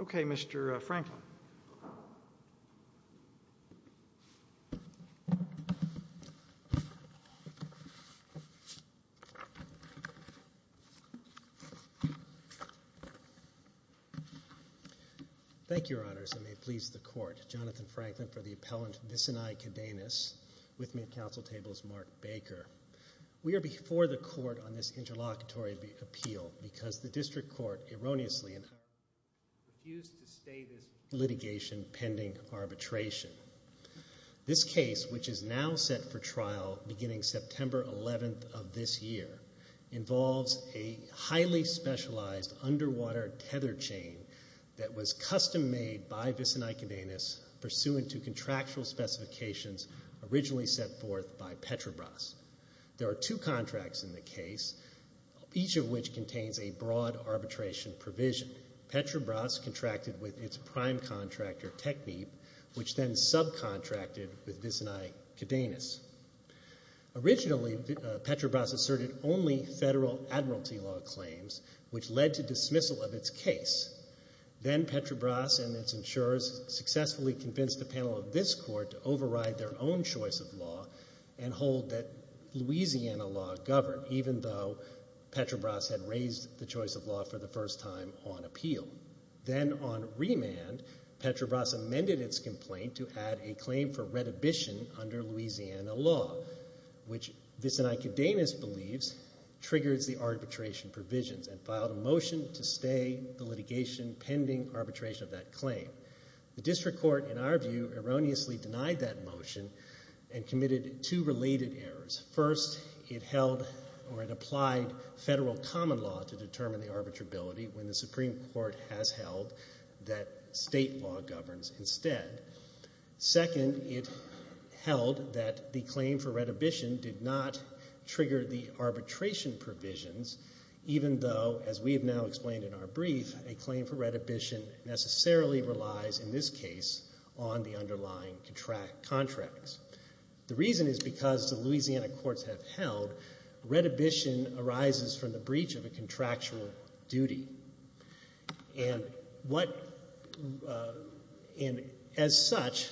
Okay, Mr. Franklin. Thank you, Your Honors, and may it please the Court, Jonathan Franklin for the appellant Vicinay Cadenas. With me at council table is Mark Baker. We are before the Court on this interlocutory appeal because the District Court erroneously and utterly refused to stay this litigation pending arbitration. This case, which is now set for trial beginning September 11th of this year, involves a highly specialized underwater tether chain that was custom made by Vicinay Cadenas pursuant to contractual specifications originally set forth by Petrobras. There are two contracts in the case, each of which contains a broad arbitration provision. Petrobras contracted with its prime contractor, Technip, which then subcontracted with Vicinay Cadenas. Originally Petrobras asserted only federal admiralty law claims, which led to dismissal of its case. Then Petrobras and its insurers successfully convinced the panel of this Court to override their own choice of law and hold that Louisiana law governed, even though Petrobras had raised the choice of law for the first time on appeal. Then on remand, Petrobras amended its complaint to add a claim for redhibition under Louisiana law, which Vicinay Cadenas believes triggers the arbitration provisions and filed a motion to stay the litigation pending arbitration of that claim. The district court, in our view, erroneously denied that motion and committed two related errors. First, it held or it applied federal common law to determine the arbitrability when the Supreme Court has held that state law governs instead. Second, it held that the claim for redhibition did not trigger the arbitration provisions, even though, as we have now explained in our brief, a claim for redhibition necessarily relies, in this case, on the underlying contract contracts. The reason is because the Louisiana courts have held redhibition arises from the breach of a contractual duty. As such,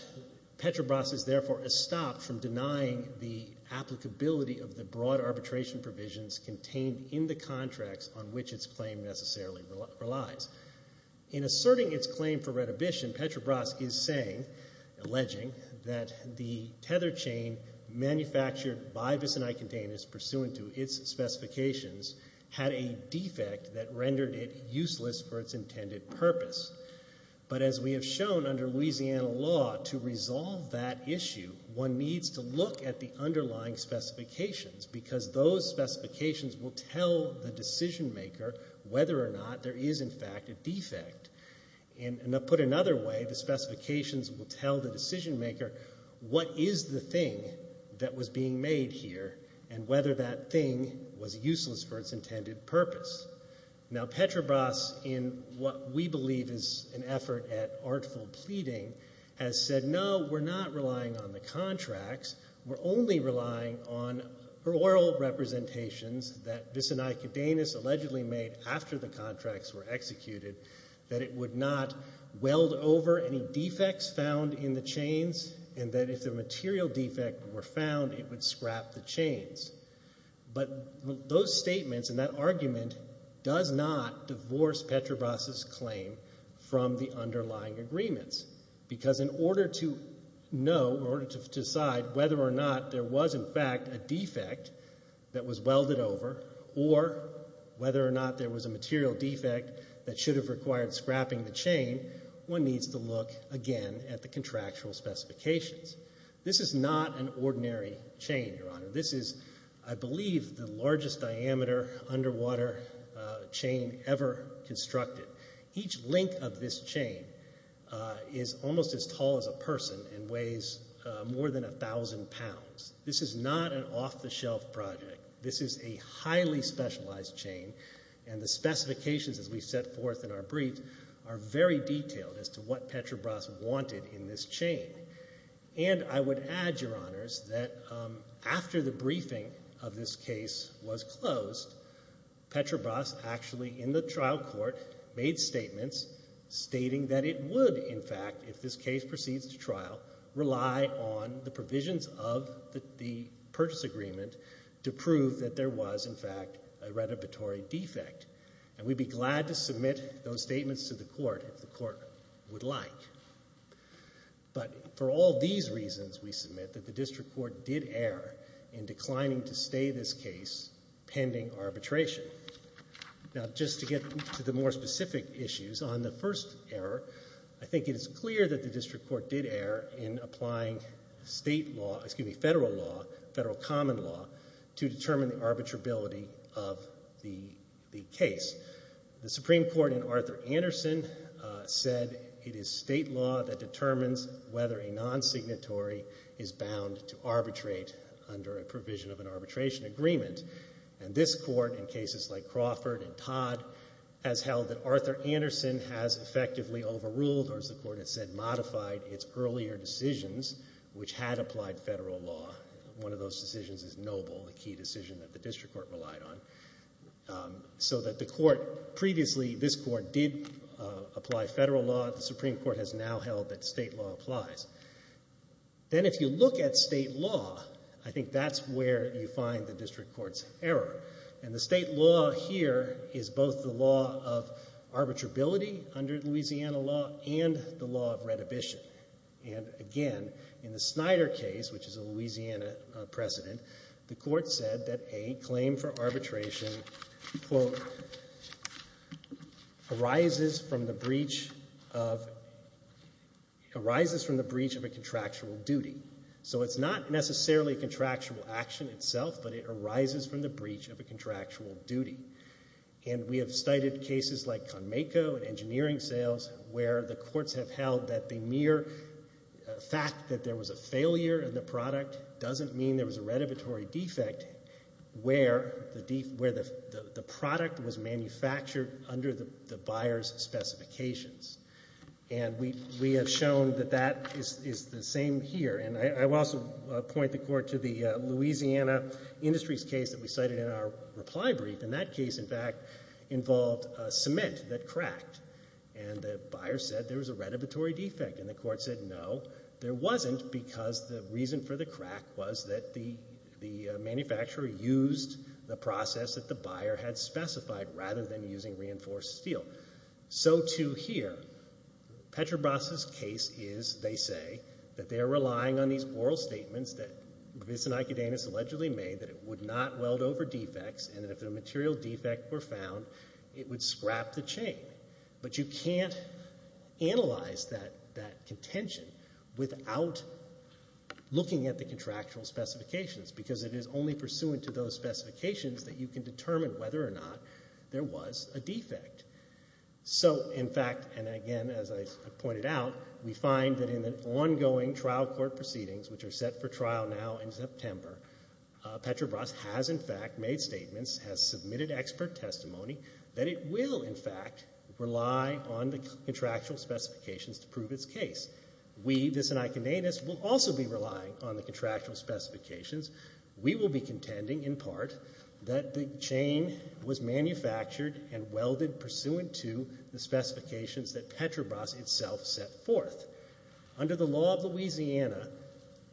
Petrobras is therefore stopped from denying the applicability of the broad arbitration provisions contained in the contracts on which its claim necessarily relies. In asserting its claim for redhibition, Petrobras is saying, alleging, that the tether chain manufactured by Vicinay Cadenas pursuant to its specifications had a defect that rendered it useless for its intended purpose. But as we have shown under Louisiana law, to resolve that issue, one needs to look at the underlying specifications, because those specifications will tell the decision maker whether or not there is, in fact, a defect. And to put it another way, the specifications will tell the decision maker what is the thing that was being made here and whether that thing was useless for its intended purpose. Now Petrobras, in what we believe is an effort at artful pleading, has said, no, we're not relying on the contracts. We're only relying on oral representations that Vicinay Cadenas allegedly made after the contracts were executed, that it would not weld over any defects found in the chains, and that if a material defect were found, it would scrap the chains. But those statements and that argument does not divorce Petrobras' claim from the underlying agreements, because in order to know, in order to decide whether or not there was, in fact, a defect that was welded over or whether or not there was a material defect that should have required scrapping the chain, one needs to look, again, at the contractual specifications. This is not an ordinary chain, Your Honor. This is, I believe, the largest diameter underwater chain ever constructed. Each link of this chain is almost as tall as a person and weighs more than 1,000 pounds. This is not an off-the-shelf project. This is a highly specialized chain, and the specifications, as we set forth in our brief, are very detailed as to what Petrobras wanted in this chain. And I would add, Your Honors, that after the briefing of this case was closed, Petrobras, actually, in the trial court, made statements stating that it would, in fact, if this case proceeds to trial, rely on the provisions of the purchase agreement to prove that there was, in fact, a retributory defect. And we'd be glad to submit those statements to the court if the court would like. But for all these reasons, we submit that the district court did err in declining to stay this case pending arbitration. Now, just to get to the more specific issues, on the first error, I think it is clear that the district court did err in applying state law, excuse me, federal law, federal common law, to determine the arbitrability of the case. The Supreme Court, in Arthur Anderson, said it is state law that determines whether a nonsignatory is bound to arbitrate under a provision of an arbitration agreement. And this court, in cases like Crawford and Todd, has held that Arthur Anderson has effectively overruled, or as the court has said, modified its earlier decisions, which had applied federal law. One of those decisions is Noble, a key decision that the district court relied on. So that the court, previously, this court did apply federal law. The Supreme Court has now held that state law applies. Then, if you look at state law, I think that's where you find the district court's error. And the state law here is both the law of arbitrability under Louisiana law and the law of retribution. And again, in the Snyder case, which is a Louisiana precedent, the court said that a claim for arbitration, quote, arises from the breach of, arises from the breach of a contractual duty. So it's not necessarily a contractual action itself, but it arises from the breach of a contractual duty. And we have cited cases like Conmeco and engineering sales, where the courts have held that the mere fact that there was a failure in the product doesn't mean there was a retributory defect where the product was manufactured under the buyer's specifications. And we have shown that that is the same here. And I will also point the court to the Louisiana Industries case that we cited in our reply brief. And that case, in fact, involved cement that cracked. And the buyer said there was a retributory defect. And the court said, no, there wasn't, because the reason for the crack was that the manufacturer used the process that the buyer had specified, rather than using reinforced steel. So, too, here, Petrobras' case is, they say, that they are relying on these oral statements that Rivis and Icodanus allegedly made that it would not weld over defects, and that if a material defect were found, it would scrap the chain. But you can't analyze that contention without looking at the contractual specifications, because it is only pursuant to those specifications that you can determine whether or not there was a defect. So, in fact, and again, as I pointed out, we find that in the ongoing trial court proceedings, which are set for trial now in September, Petrobras has, in fact, made statements, has submitted expert testimony that it will, in fact, rely on the contractual specifications to prove its case. We, Rivis and Icodanus, will also be relying on the contractual specifications. We will be contending, in part, that the chain was manufactured and welded pursuant to the specifications that Petrobras itself set forth. Under the law of Louisiana,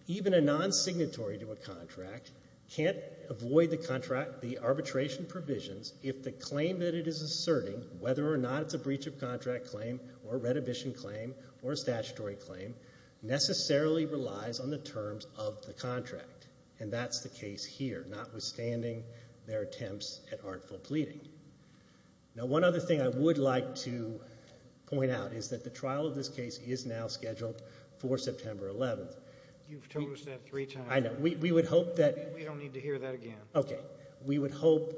even a non-signatory to a contract can't avoid the contract, the arbitration provisions, if the claim that it is asserting, whether or not it's a breach of contract claim, or a reddition claim, or a statutory claim, necessarily relies on the terms of the contract. And that's the case here, notwithstanding their attempts at artful pleading. Now, one other thing I would like to point out is that the trial of this case is now scheduled for September 11th. You've told us that three times. I know. We would hope that. We don't need to hear that again. Okay. We would hope,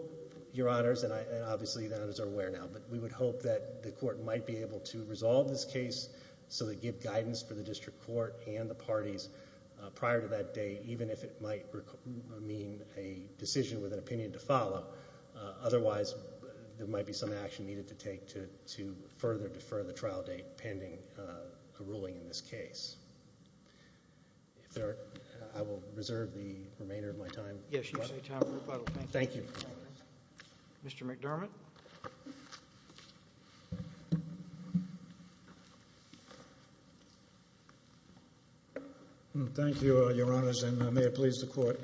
Your Honors, and obviously the others are aware now, but we would hope that the court might be able to resolve this case so they give guidance for the district court and the parties prior to that date, even if it might mean a decision with an opinion to follow. Otherwise, there might be some action needed to take to further defer the trial date, pending a ruling in this case. If there are, I will reserve the remainder of my time. Yes, you have time for rebuttal. Thank you. Mr. McDermott. Thank you, Your Honors, and may it please the court.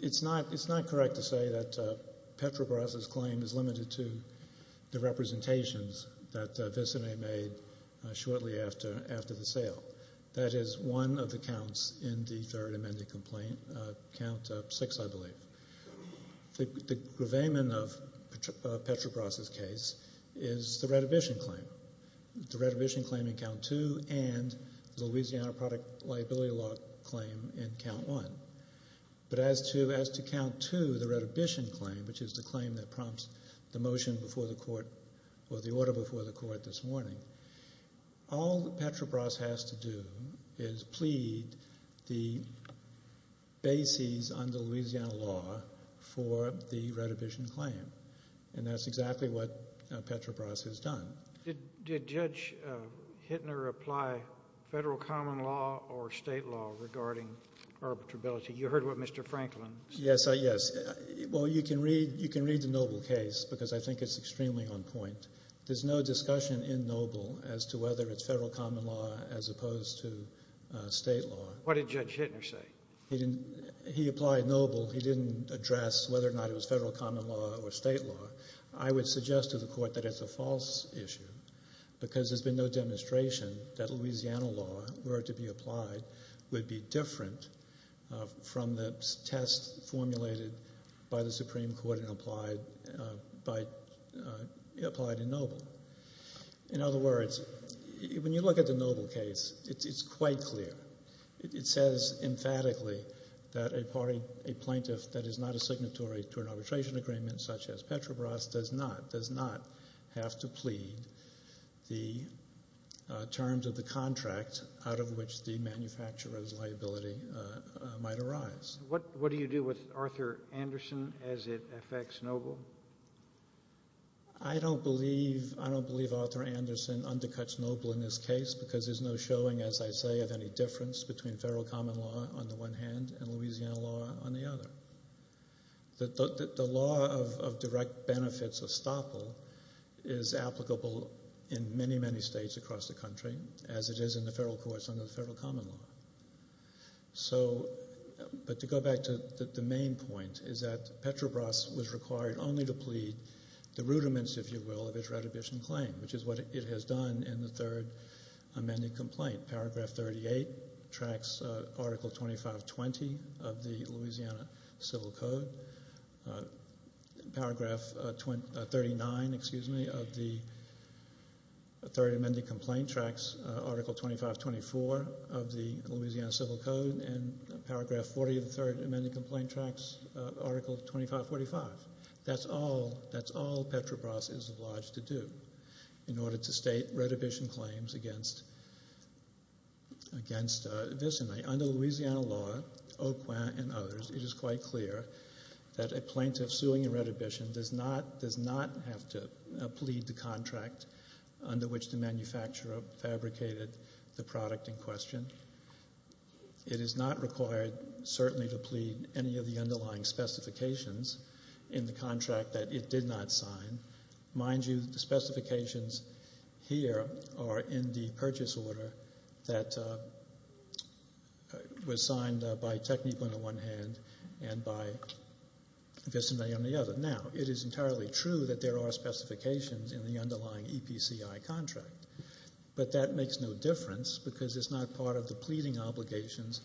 It's not correct to say that Petrobras' claim is limited to the representations that Visine made shortly after the sale. That is one of the counts in the third amended complaint, count six, I believe. The gravamen of Petrobras' case is the Redhibition claim. The Redhibition claim in count two and the Louisiana Product Liability Law claim in count one. But as to count two, the Redhibition claim, which is the claim that prompts the motion before the court, or the order before the court this morning, all that Petrobras has to do is plead the bases under Louisiana law for the Redhibition claim. And that's exactly what Petrobras has done. Did Judge Hittner apply federal common law or state law regarding arbitrability? You heard what Mr. Franklin said. Yes, yes. Well, you can read the Noble case because I think it's extremely on point. There's no discussion in Noble as to whether it's federal common law as opposed to state law. What did Judge Hittner say? He didn't, he applied Noble. He didn't address whether or not it was federal common law or state law. I would suggest to the court that it's a false issue because there's been no demonstration that Louisiana law were to be applied would be different from the test formulated by the Supreme Court and applied in Noble. In other words, when you look at the Noble case, it's quite clear. It says emphatically that a plaintiff that is not a signatory to an arbitration agreement such as Petrobras does not, does not have to plead the terms of the contract out of which the manufacturer's liability might arise. What do you do with Arthur Anderson as it affects Noble? I don't believe, I don't believe Arthur Anderson undercuts Noble in this case because there's no showing, as I say, of any difference between federal common law on the one hand and Louisiana law on the other. The law of direct benefits estoppel is applicable in many, many states across the country as it is in the federal courts under the federal common law. So, but to go back to the main point is that Petrobras was required only to plead the rudiments, if you will, of its retribution claim, which is what it has done in the third amended complaint. Paragraph 38 tracks Article 2520 of the Louisiana Civil Code. Paragraph 39, excuse me, of the third amended complaint tracks Article 2524 of the Louisiana Civil Code and Paragraph 40 of the third amended complaint tracks Article 2545. That's all, that's all Petrobras is obliged to do in order to state retribution claims against this and under Louisiana law, OQA and others, it is quite clear that a plaintiff suing a retribution does not have to plead the contract under which the manufacturer fabricated the product in question. It is not required certainly to plead any of the underlying specifications in the contract that it did not sign. Mind you, the specifications here are in the purchase order that was signed by Technique on the one hand and by Vis-a-me on the other. Now, it is entirely true that there are specifications in the underlying EPCI contract, but that makes no difference because it's not part of the pleading obligations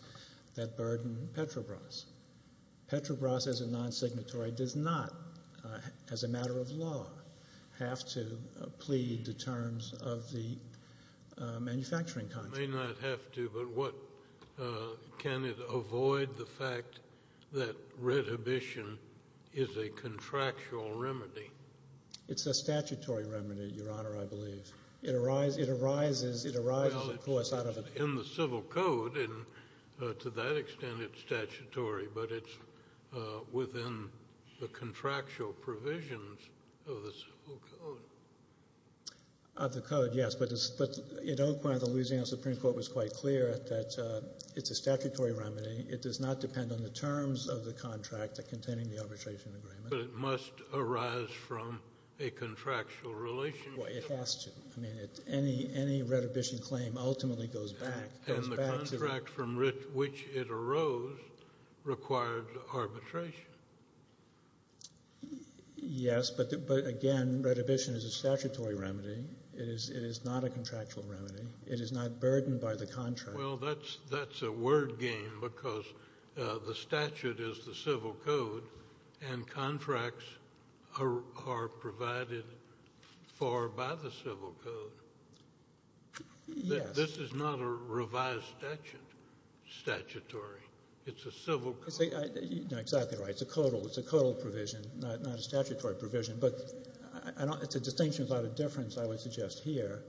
that burden Petrobras. Petrobras as a non-signatory does not, as a matter of law, have to plead the terms of the manufacturing contract. May not have to, but what, can it avoid the fact that retribution is a contractual remedy? It's a statutory remedy, Your Honor, I believe. It arises, it arises, it arises, of course, out of a... but it's within the contractual provisions of the code. Of the code, yes, but it's, but it, at one point, the Louisiana Supreme Court was quite clear that it's a statutory remedy. It does not depend on the terms of the contract containing the arbitration agreement. But it must arise from a contractual relationship. Well, it has to. I mean, any, any retribution claim ultimately goes back, goes back to... requires arbitration. Yes, but, but again, retribution is a statutory remedy. It is, it is not a contractual remedy. It is not burdened by the contract. Well, that's, that's a word game because the statute is the civil code and contracts are, are provided for by the civil code. Yes. This is not a revised statute, statutory. It's a civil code. See, I, you're exactly right. It's a codal, it's a codal provision, not, not a statutory provision. But I don't, it's a distinction without a difference, I would suggest here,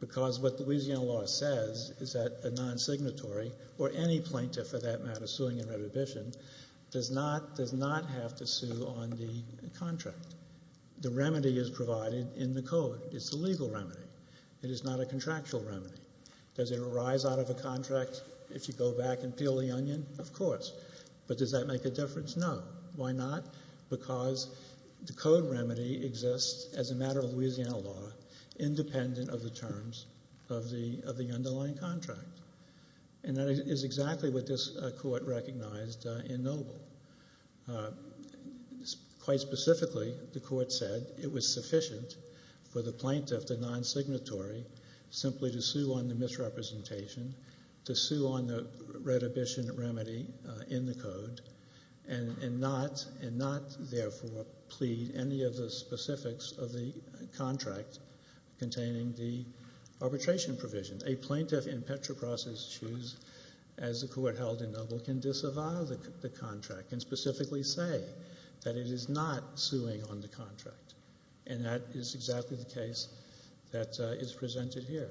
because what the Louisiana law says is that a non-signatory or any plaintiff, for that matter, suing in retribution does not, does not have to sue on the contract. The remedy is provided in the code. It's a legal remedy. It is not a contractual remedy. Does it arise out of a contract? If you go back and peel the onion, of course. But does that make a difference? No. Why not? Because the code remedy exists as a matter of Louisiana law, independent of the terms of the, of the underlying contract. And that is exactly what this court recognized in Noble. Quite specifically, the court said it was sufficient for the plaintiff, the non-signatory, simply to sue on the misrepresentation, to sue on the retribution remedy in the code, and, and not, and not, therefore, plead any of the specifics of the contract containing the arbitration provision. A plaintiff in Petrobras's shoes, as the court held in Noble, can disavow the, the contract, and specifically say that it is not suing on the contract. And that is exactly the case that is presented here.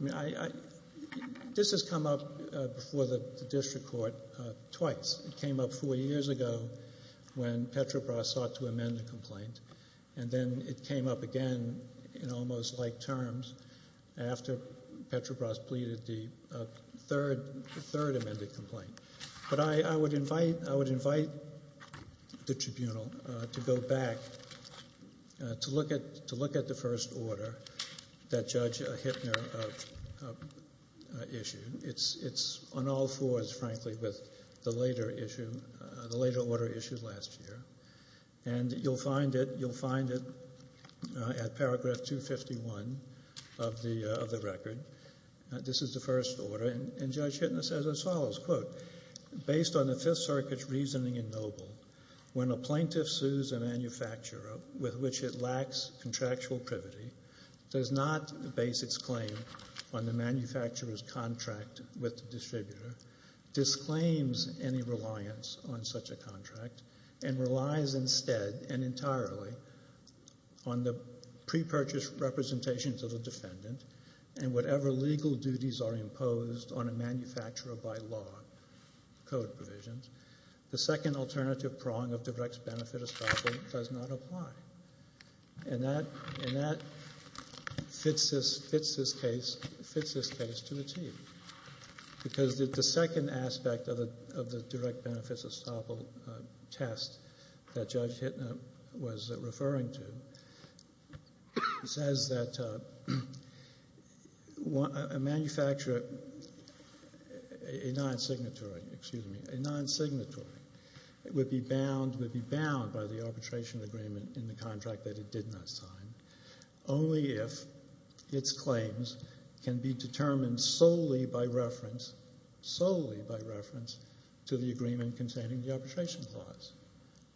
I mean, I, I, this has come up before the district court twice. It came up four years ago when Petrobras sought to amend the complaint. And then it came up again in almost like terms after Petrobras pleaded the third, the third amended complaint. But I, I would invite, I would invite the tribunal to go back to look at, to look at the first order that Judge Hittner issued. It's, it's on all fours, frankly, with the later issue, the later order issued last year. And you'll find it, you'll find it at paragraph 251 of the, of the record. This is the first order, and, and Judge Hittner says as follows, quote, based on the Fifth Circuit's reasoning in Noble, when a plaintiff sues a manufacturer with which it lacks contractual privity, does not base its claim on the manufacturer's contract with the distributor, disclaims any reliance on such a contract, and relies instead, and entirely, on the pre-purchase representation to the defendant, and whatever legal duties are imposed on a manufacturer by law, code provisions, the second alternative prong of direct benefit estoppel does not apply. And that, and that fits this, fits this case, fits this case to a tee. Because the second aspect of the, of the direct benefits estoppel test that Judge Hittner was referring to says that a manufacturer, a non-signatory, excuse me, a non-signatory would be bound, would be bound by the arbitration agreement in the contract that it did not sign, only if its claims can be determined solely by reference, solely by reference to the agreement containing the arbitration clause.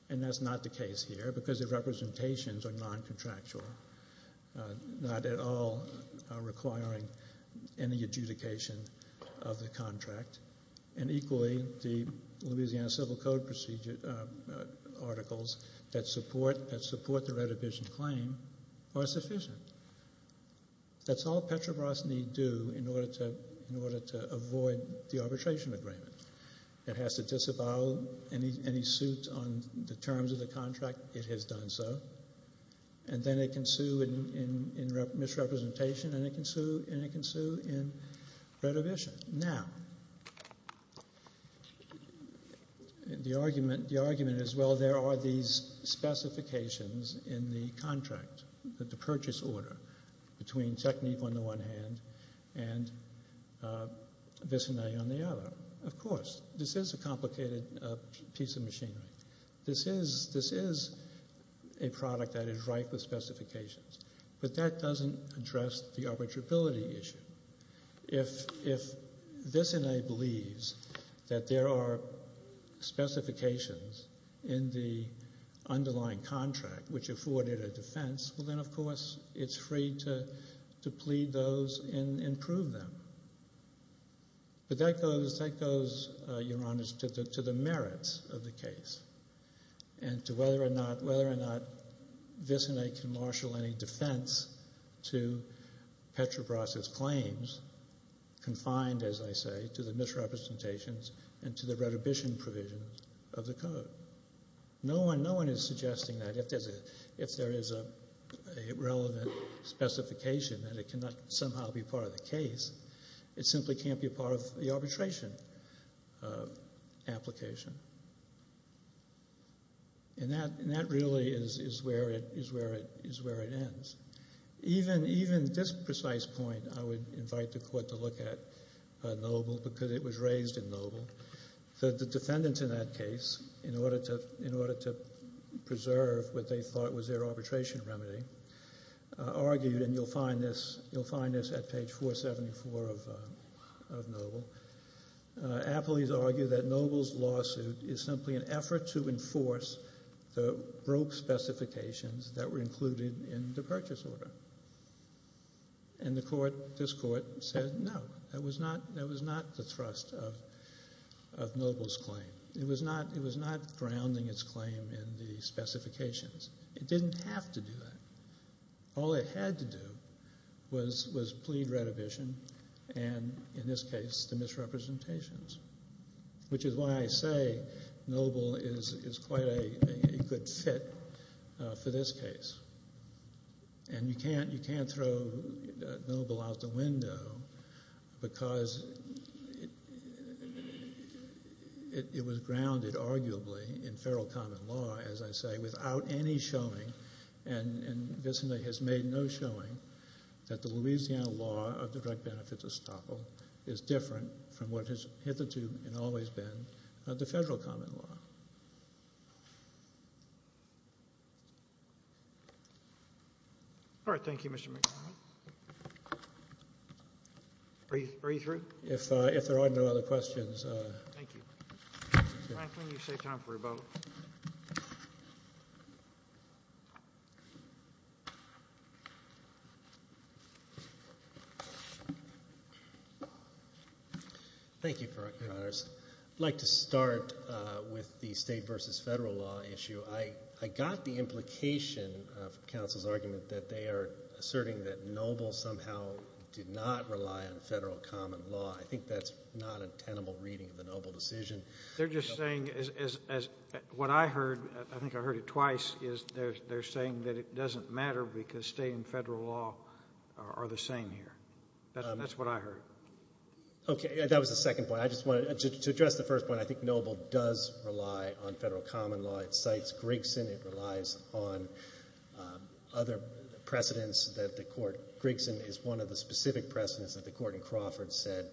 And that's not the case here, because the representations are non-contractual, not at all requiring any adjudication of the contract. And equally, the Louisiana Civil Code procedure articles that support, that support the retribution claim are sufficient. That's all Petrobras need do in order to, in order to avoid the arbitration agreement. It has to disavow any, any suit on the terms of the contract, it has done so. And then it can sue in, in misrepresentation, and it can sue, and it can sue in retribution. Now, the argument, the argument is, well, there are these specifications in the contract, the purchase order, between Technique on the one hand, and Vicene on the other. Of course, this is a complicated piece of machinery. This is, this is a product that is ripe with specifications. But that doesn't address the arbitrability issue. If, if Vicene believes that there are specifications in the underlying contract, which afforded a defense, well then, of course, it's free to, to plead those and, and prove them. But that goes, that goes, Your Honors, to the, to the merits of the case, and to whether or not, Vicene can marshal any defense to Petrobras' claims, confined, as I say, to the misrepresentations, and to the retribution provisions of the code. No one, no one is suggesting that if there's a, if there is a, a relevant specification, that it cannot somehow be part of the case. It simply can't be a part of the arbitration application. And that, and that really is, is where it, is where it, is where it ends. Even, even this precise point, I would invite the court to look at Noble, because it was raised in Noble, that the defendants in that case, in order to, in order to preserve what they thought was their arbitration remedy, argued, and you'll find this, you'll find this at page 474 of, of Noble. Appley's argued that Noble's lawsuit is simply an effort to enforce the broke specifications that were included in the purchase order. And the court, this court, said no. That was not, that was not the thrust of, of Noble's claim. It was not, it was not grounding its claim in the specifications. It didn't have to do that. All it had to do was, was plead retribution, and in this case, the misrepresentations. Which is why I say Noble is, is quite a, a good fit for this case. And you can't, you can't throw Noble out the window, because it, it was grounded, arguably, in federal common law, as I say, without any showing. And, and Visna has made no showing that the Louisiana law of the direct benefit to Staple is different from what has hitherto and always been the federal common law. All right, thank you, Mr. McNamara. Are you, are you through? If, if there are no other questions. Thank you. Franklin, you've saved time for your vote. Thank you, Your Honors. I'd like to start with the state versus federal law issue. I, I got the implication from counsel's argument that they are asserting that Noble somehow did not rely on federal common law. I think that's not a tenable reading of the Noble decision. They're just saying, as, as, what I heard, I think I heard it twice, is they're, they're saying that it doesn't matter because state and federal law are, are the same here. That's, that's what I heard. Okay, that was the second point. I just wanted, to, to address the first point, I think Noble does rely on federal common law. It cites Grigson. It relies on other precedents that the court, Grigson is one of the specific precedents that the court in Crawford said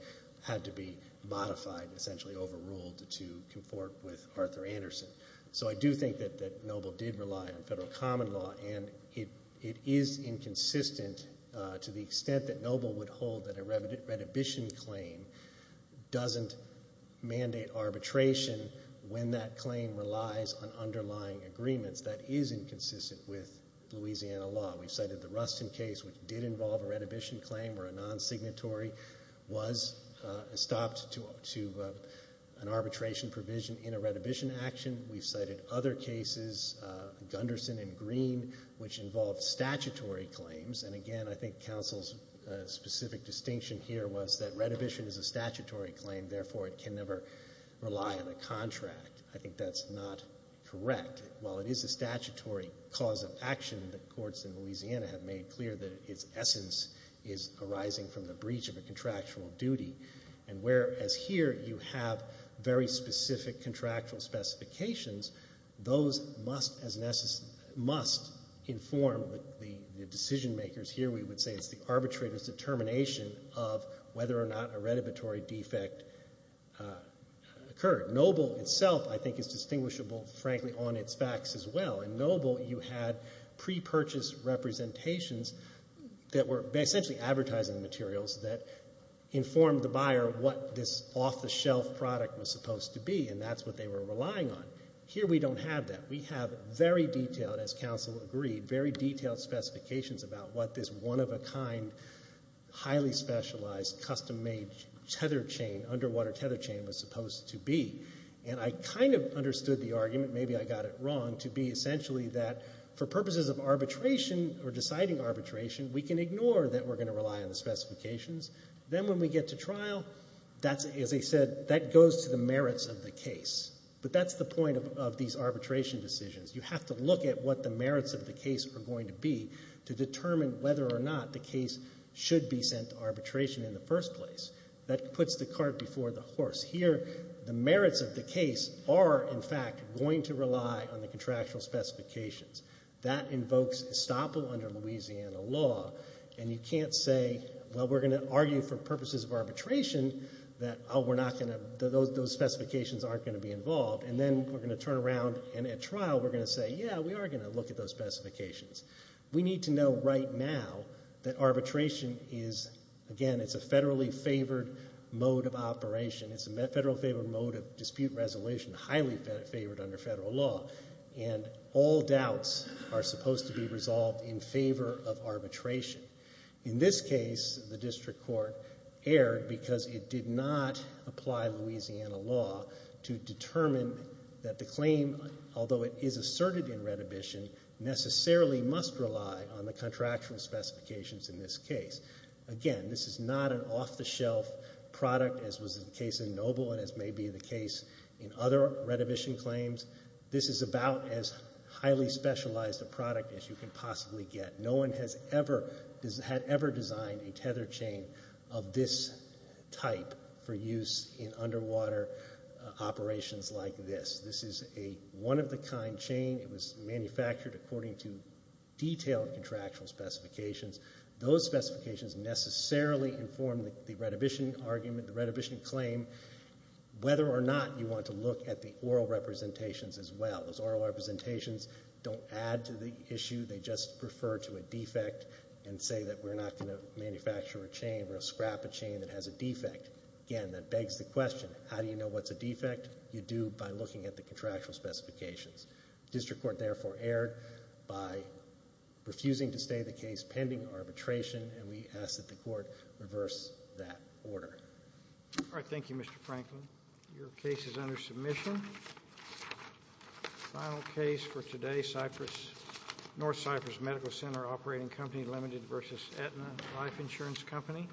had to be modified, essentially overruled, to, to confort with Arthur Anderson. So I do think that, that Noble did rely on federal common law, and it, it is inconsistent to the extent that Noble would hold that a red, a redhibition claim doesn't mandate arbitration when that claim relies on underlying agreements. That is inconsistent with Louisiana law. We've cited the Rustin case, which did involve a redhibition claim where a non-signatory was stopped to, to an arbitration provision in a redhibition action. We've cited other cases, Gunderson and Green, which involved statutory claims. And again, I think counsel's specific distinction here was that redhibition is a statutory claim, therefore it can never rely on a contract. I think that's not correct. While it is a statutory cause of action, the courts in Louisiana have made clear that its essence is arising from the breach of a contractual duty. And whereas here you have very specific contractual specifications, those must as necessary, must inform the, the decision makers. Here we would say it's the arbitrator's determination of whether or not a redhibitory defect occurred. Noble itself I think is distinguishable, frankly, on its facts as well. In Noble you had pre-purchase representations that were essentially advertising materials that informed the buyer what this off-the-shelf product was supposed to be, and that's what they were relying on. Here we don't have that. We have very detailed, as counsel agreed, very detailed specifications about what this one-of-a-kind, highly specialized, custom-made tether chain, underwater tether chain was supposed to be. And I kind of understood the argument, maybe I got it wrong, to be essentially that for purposes of arbitration or deciding arbitration, we can ignore that we're going to rely on the specifications. Then when we get to trial, that's, as I said, that goes to the merits of the case. But that's the point of these arbitration decisions. You have to look at what the merits of the case are going to be to determine whether or not the case should be sent to arbitration in the first place. That puts the cart before the horse. Here, the merits of the case are, in fact, going to rely on the contractual specifications. That invokes estoppel under Louisiana law, and you can't say, well, we're going to argue for purposes of arbitration that, oh, we're not going to, those specifications aren't going to be involved, and then we're going to turn around, and at trial we're going to say, yeah, we are going to look at those specifications. We need to know right now that arbitration is, again, it's a federally favored mode of operation. It's a federally favored mode of dispute resolution, highly favored under federal law, and all doubts are supposed to be resolved in favor of arbitration. In this case, the district court erred because it did not apply Louisiana law to determine that the claim, although it is asserted in Redhibition, necessarily must rely on the contractual specifications in this case. Again, this is not an off-the-shelf product, as was the case in Noble and as may be the case in other Redhibition claims. This is about as highly specialized a product as you can possibly get. No one has ever designed a tether chain of this type for use in underwater operations like this. This is a one-of-the-kind chain. It was manufactured according to detailed contractual specifications. Those specifications necessarily inform the Redhibition argument, the Redhibition claim, whether or not you want to look at the oral representations as well. Those oral representations don't add to the issue. They just refer to a defect and say that we're not going to manufacture a chain or scrap a chain that has a defect. Again, that begs the question, how do you know what's a defect? You do by looking at the contractual specifications. District Court therefore erred by refusing to stay the case pending arbitration, and we ask that the Court reverse that order. All right. Thank you, Mr. Franklin. Your case is under submission. Final case for today, North Cypress Medical Center Operating Company Limited v. Aetna Life Insurance Company.